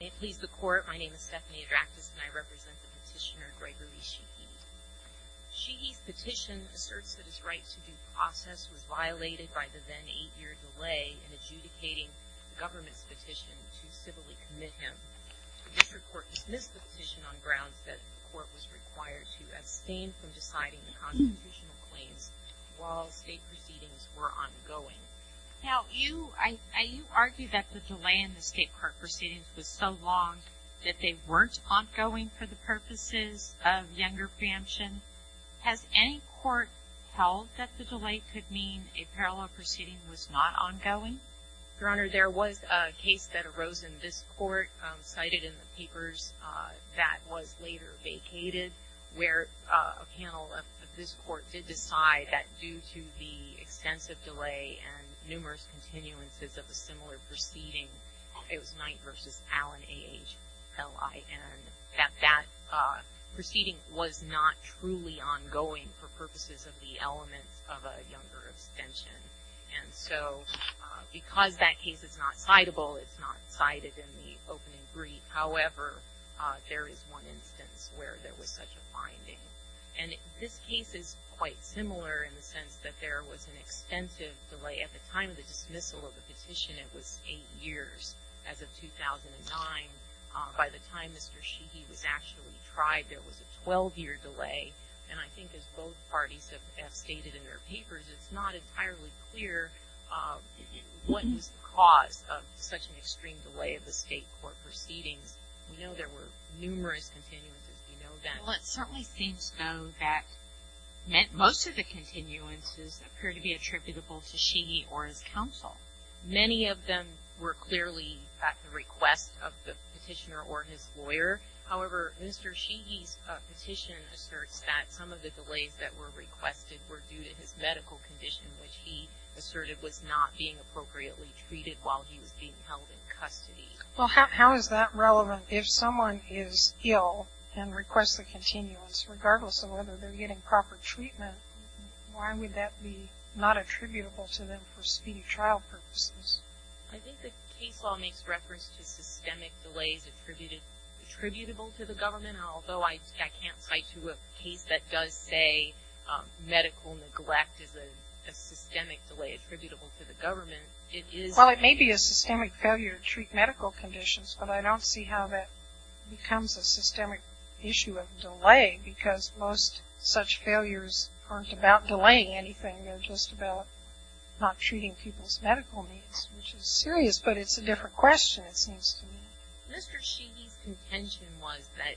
May it please the Court, my name is Stephanie Adractis and I represent the petitioner Gregory Shehee. Shehee's petition asserts that his right to due process was violated by the then eight-year delay in adjudicating the government's petition to civilly commit him. The district court dismissed the petition on grounds that the court was required to abstain from deciding the constitutional claims while state proceedings were ongoing. Now you argue that the delay in the state court proceedings was so long that they weren't ongoing for the purposes of younger preemption. Has any court held that the delay could mean a parallel proceeding was not ongoing? Your Honor, there was a case that arose in this court cited in the papers that was later vacated where a panel of this court did decide that due to the extensive delay and numerous continuances of a similar proceeding, it was Knight v. Allen, A-H-L-I-N, that that proceeding was not truly ongoing for purposes of the elements of a younger abstention. And so because that case is not citable, it's not cited in the opening brief, however, there is one instance where there was such a finding. And this case is quite similar in the sense that there was an extensive delay. At the time of the dismissal of the petition, it was eight years. As of 2009, by the time Mr. Shehee was actually tried, there was a 12-year delay. And I think as both parties have stated in their papers, it's not entirely clear what was the cause of such an extreme delay of the state court proceedings. We know there were numerous continuances. We know that. Well, it certainly seems, though, that most of the continuances appear to be attributable to Shehee or his counsel. Many of them were clearly at the request of the petitioner or his lawyer. However, Mr. Shehee's petition asserts that some of the delays that were requested were due to his medical condition, which he asserted was not being appropriately treated while he was being held in custody. Well, how is that relevant? If someone is ill and requests a continuance, regardless of whether they're getting proper treatment, why would that be not attributable to them for speedy trial purposes? I think the case law makes reference to systemic delays attributable to the government. Although I can't cite you a case that does say medical neglect is a systemic delay attributable to the government, it is. Well, it may be a systemic failure to treat medical conditions, but I don't see how that becomes a systemic issue of delay because most such failures aren't about delaying anything. They're just about not treating people's medical needs, which is serious, but it's a different question, it seems to me. Mr. Shehee's contention was that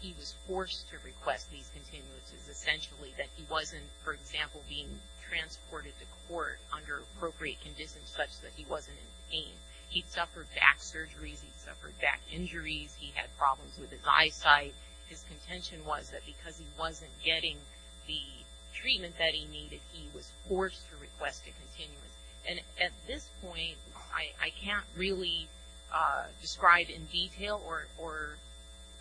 he was forced to request these continuances, essentially that he wasn't, for example, being transported to court under appropriate conditions such that he wasn't in pain. He'd suffered back surgeries. He'd suffered back injuries. He had problems with his eyesight. His contention was that because he wasn't getting the treatment that he needed, he was forced to request a continuance. And at this point, I can't really describe in detail or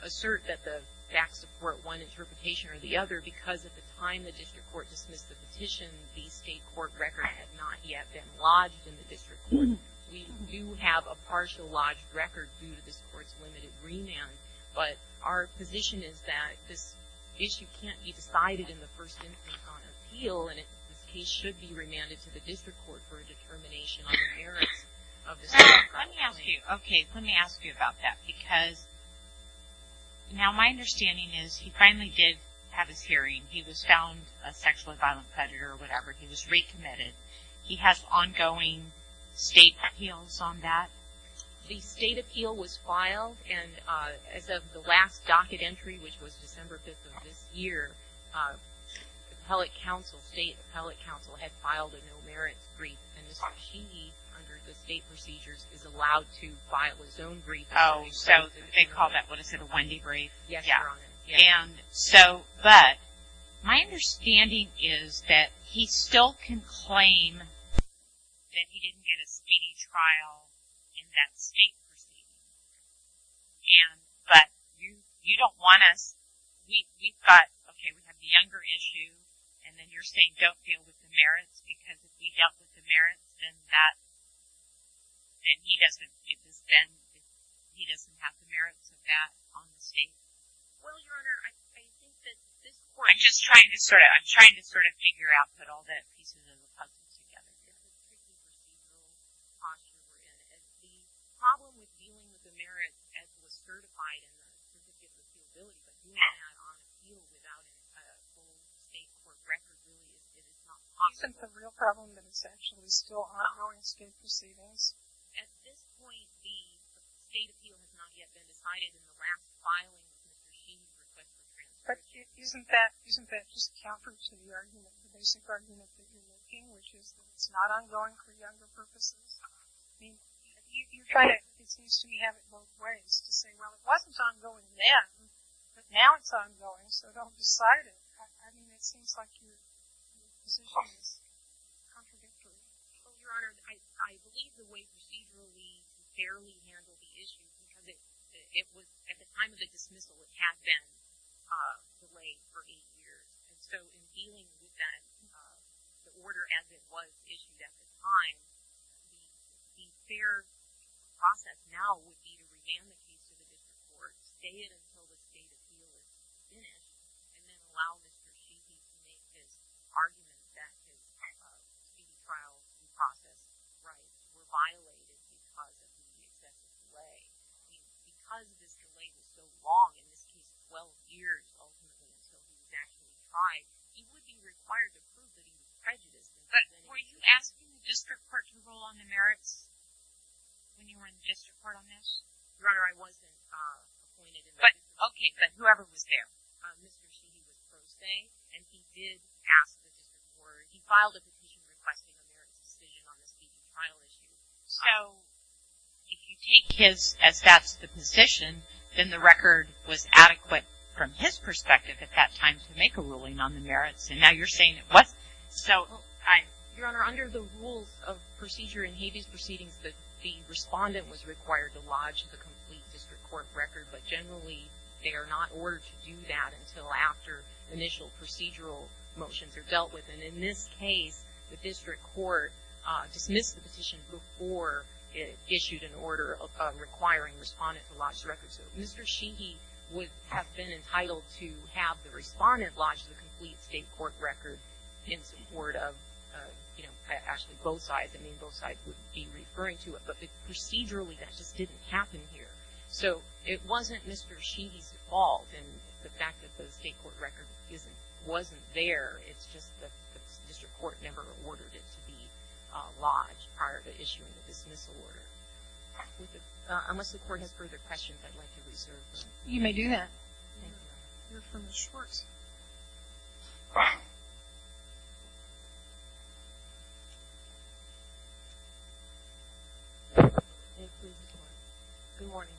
assert that the facts support one interpretation or the other because at the time the district court dismissed the petition, the state court record had not yet been lodged in the district court. We do have a partial lodged record due to this court's limited remand, but our position is that this issue can't be decided in the first instance on appeal and this case should be remanded to the district court for a determination on the merits of the state court. Okay, let me ask you about that because now my understanding is he finally did have his hearing. He was found a sexually violent predator or whatever. He was recommitted. He has ongoing state appeals on that? The state appeal was filed and as of the last docket entry, which was December 5th of this year, the appellate council, state appellate council, had filed a no merits brief and Mr. Sheehy, under the state procedures, is allowed to file his own brief. Oh, so they call that what is it, a Wendy brief? Yes, Your Honor. But my understanding is that he still can claim that he didn't get a speedy trial in that state. But you don't want us, we've got, okay, we have the younger issue and then you're saying don't deal with the merits because if we dealt with the merits, then that, then he doesn't, it was then, he doesn't have the merits of that on the state? Well, Your Honor, I think that this court I'm just trying to sort of, I'm trying to sort of figure out, put all that piece into the puzzle. Yes. Okay. Isn't the real problem that it's actually still ongoing state procedures? But isn't that, isn't that just a counter to the argument, which is that it's not ongoing for younger purposes? I mean, you kind of, it seems to me you have it both ways. To say, well, it wasn't ongoing then, but now it's ongoing, so don't decide it. I mean, it seems like your position is contradictory. Well, Your Honor, I believe the way the state will be fairly handled the issue is that it was, at the time of the dismissal, it had been delayed for eight years. So, in dealing with that, the order as it was issued at the time, the fair process now would be to revamp the case with the court, stay it until the state's ruling is in, and then allow the state to make this argument that the state's trial process was violated because it was being sent away. Because this delay was so long, in this case, 12 years, ultimately until the exact time, he would be required to prove that he was prejudiced. But were you asking the district court to rule on the merits when you were in the district court on this? Your Honor, I wasn't. But, okay, but whoever was there, Mr. Cheney was a pro se, and he did ask for, he filed a petition requesting the merits to stay on the state trial issue. So, if you take his, as that's the position, then the record was adequate from his perspective at that time to make a ruling on the merits. And now you're saying it wasn't. Your Honor, under the rules of procedure in Habeas Proceedings, the respondent was required to lodge the complete district court record, but generally they are not ordered to do that until after initial procedural motions are dealt with. And in this case, the district court dismissed the petition before it issued an order requiring the respondent to lodge the record. So Mr. Cheney would have been entitled to have the respondent lodge the complete state court record in support of, you know, actually both sides. I mean, both sides would be referring to it. But procedurally, that just didn't happen here. So it wasn't Mr. Cheney's fault in the fact that the state court record wasn't there. It's just that the district court never ordered it to be lodged prior to issuing the dismissal order. Unless the court has further questions, I'd like to reserve them. You may do that. We'll hear from Ms. Schwartz. Good morning.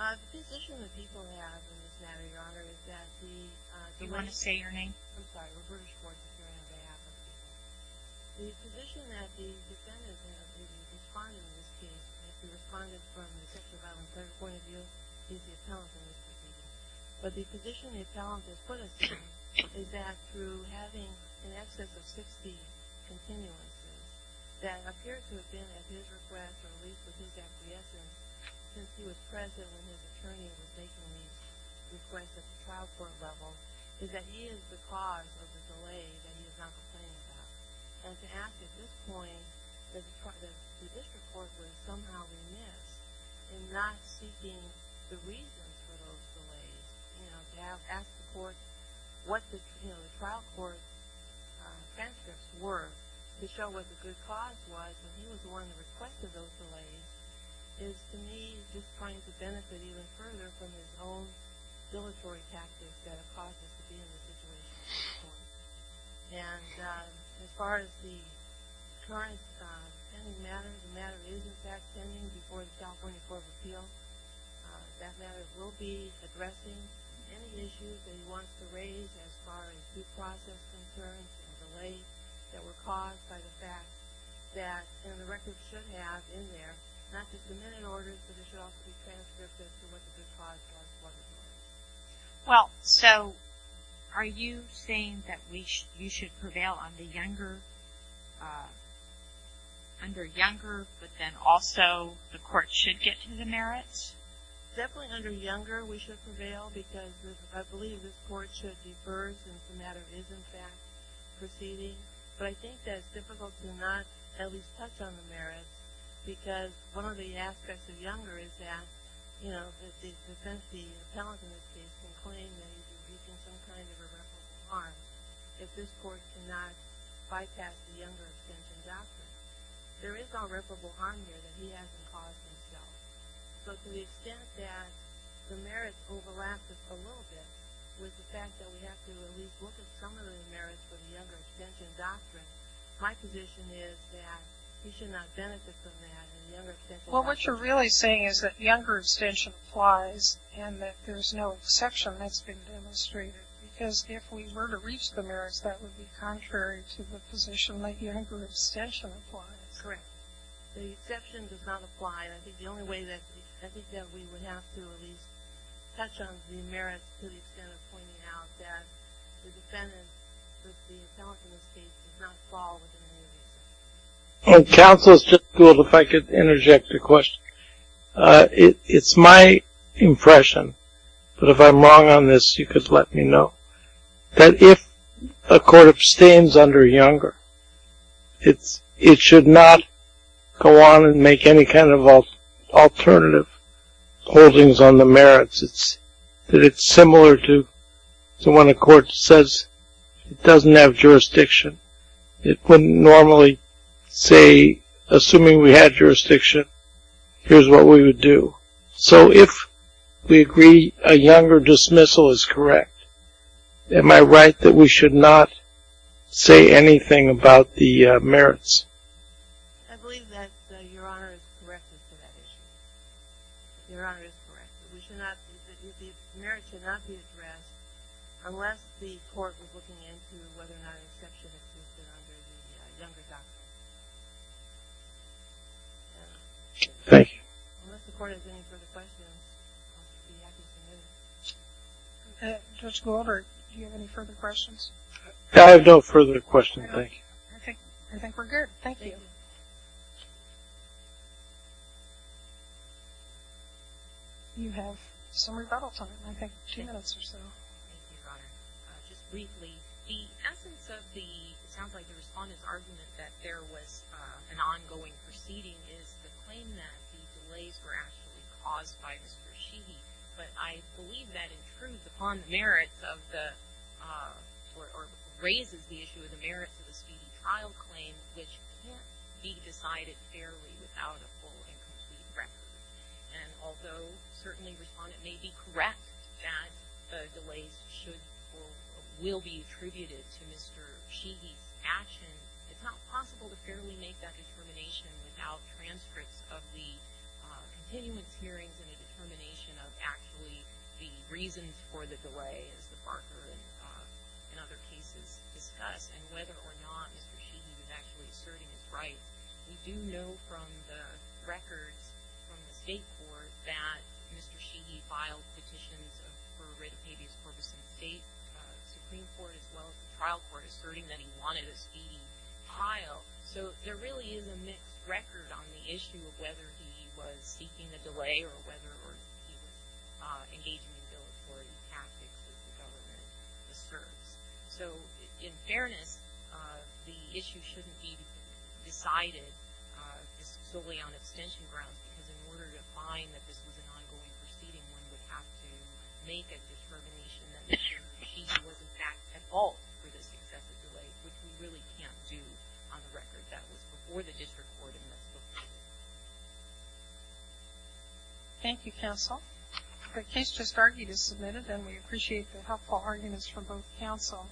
The position that people have in this matter, Your Honor, is that the Do you want to say your name? I'm sorry. Roberta Schwartz, if you're on behalf of the court. The position that the defendants have, the respondent in this case, the respondent from the 6th, 11th, and 3rd point of view, is the appellant in this proceeding. But the position the appellant has put us in is that through having an excess of 60 continuances that appears to have been at his request or at least was in fact the essence since he was present when his attorney was making these requests at the trial court level, is that he is the cause of the delay that he is not complaining about. And to ask at this point that the district court was somehow remiss in not seeking the reason for those delays, to ask the trial court what the transcripts were to show what the good cause was when he was the one that requested those delays, is to me just trying to benefit even further from his own regulatory tactics that have caused us to be in this situation at this point. And as far as the current pending matter, the matter is in fact pending before the California Court of Appeals. That matter will be addressing any issues that he wants to raise as far as due process concerns and delays that were caused by the fact that, and the record should have in there, not just the minute orders but it should also be transcripts as to what the good cause was. Well, so are you saying that you should prevail on the younger, under younger, but then also the court should get to the merits? Definitely under younger we should prevail because I believe this court should defer since the matter is in fact proceeding. But I think that it's difficult to not at least touch on the merits because one of the aspects of younger is that, you know, the defensee, the appellant in this case, can claim that he's inducing some kind of irreparable harm if this court cannot bypass the younger extension doctrine. There is no irreparable harm here that he hasn't caused himself. But to the extent that the merits overlap just a little bit with the fact that we have to at least look at some of the merits for the younger extension doctrine, my position is that he should not benefit from that in the younger extension doctrine. Well, what you're really saying is that younger extension applies and that there's no exception that's been demonstrated because if we were to reach the merits that would be contrary to the position that younger extension applies. Correct. The exception does not apply. I think the only way that we would have to at least touch on the merits to the extent of pointing out that the defendant, the appellant in this case, does not fall within the new reason. Counsel, if I could interject a question. It's my impression, but if I'm wrong on this, you could let me know, that if a court abstains under younger, it should not go on and make any kind of alternative holdings on the merits. That it's similar to when a court says it doesn't have jurisdiction. It wouldn't normally say, assuming we had jurisdiction, here's what we would do. So if we agree a younger dismissal is correct, am I right that we should not say anything about the merits? I believe that Your Honor is correct as to that issue. Your Honor is correct. We should not, the merits should not be addressed unless the court was looking into whether or not an exception existed under the younger doctrine. Thank you. Unless the court has any further questions, I'll be happy to move. Judge Goldberg, do you have any further questions? I have no further questions, thank you. Okay, I think we're good. Thank you. You have some rebuttal time, I think two minutes or so. Thank you, Your Honor. Just briefly, the essence of the, it sounds like the respondent's argument that there was an ongoing proceeding is the claim that the delays were actually caused by Mr. Sheehy, but I believe that intrudes upon the merits of the, or raises the issue of the merits of the speedy trial claim, which can't be decided fairly without a full and complete record. And although certainly the respondent may be correct that the delays should or will be attributed to Mr. Sheehy's transcripts of the continuance hearings and the determination of actually the reasons for the delay, as the Barker and other cases discuss, and whether or not Mr. Sheehy was actually asserting his rights, we do know from the records from the state court that Mr. Sheehy filed petitions for red tapeus corpus in the state Supreme Court, as well as the trial court, asserting that he wanted a speedy trial. So there really is a mixed record on the issue of whether he was seeking a delay or whether he was engaging in those tactics that the government asserts. So in fairness, the issue shouldn't be decided solely on extension grounds, because in order to find that this was an ongoing proceeding, one would have to make a determination that Mr. Sheehy had made an excessive delay, which we really can't do on the record. That was before the district court in Mexico City. Thank you, counsel. The case just argued is submitted, and we appreciate the helpful arguments from both counsel.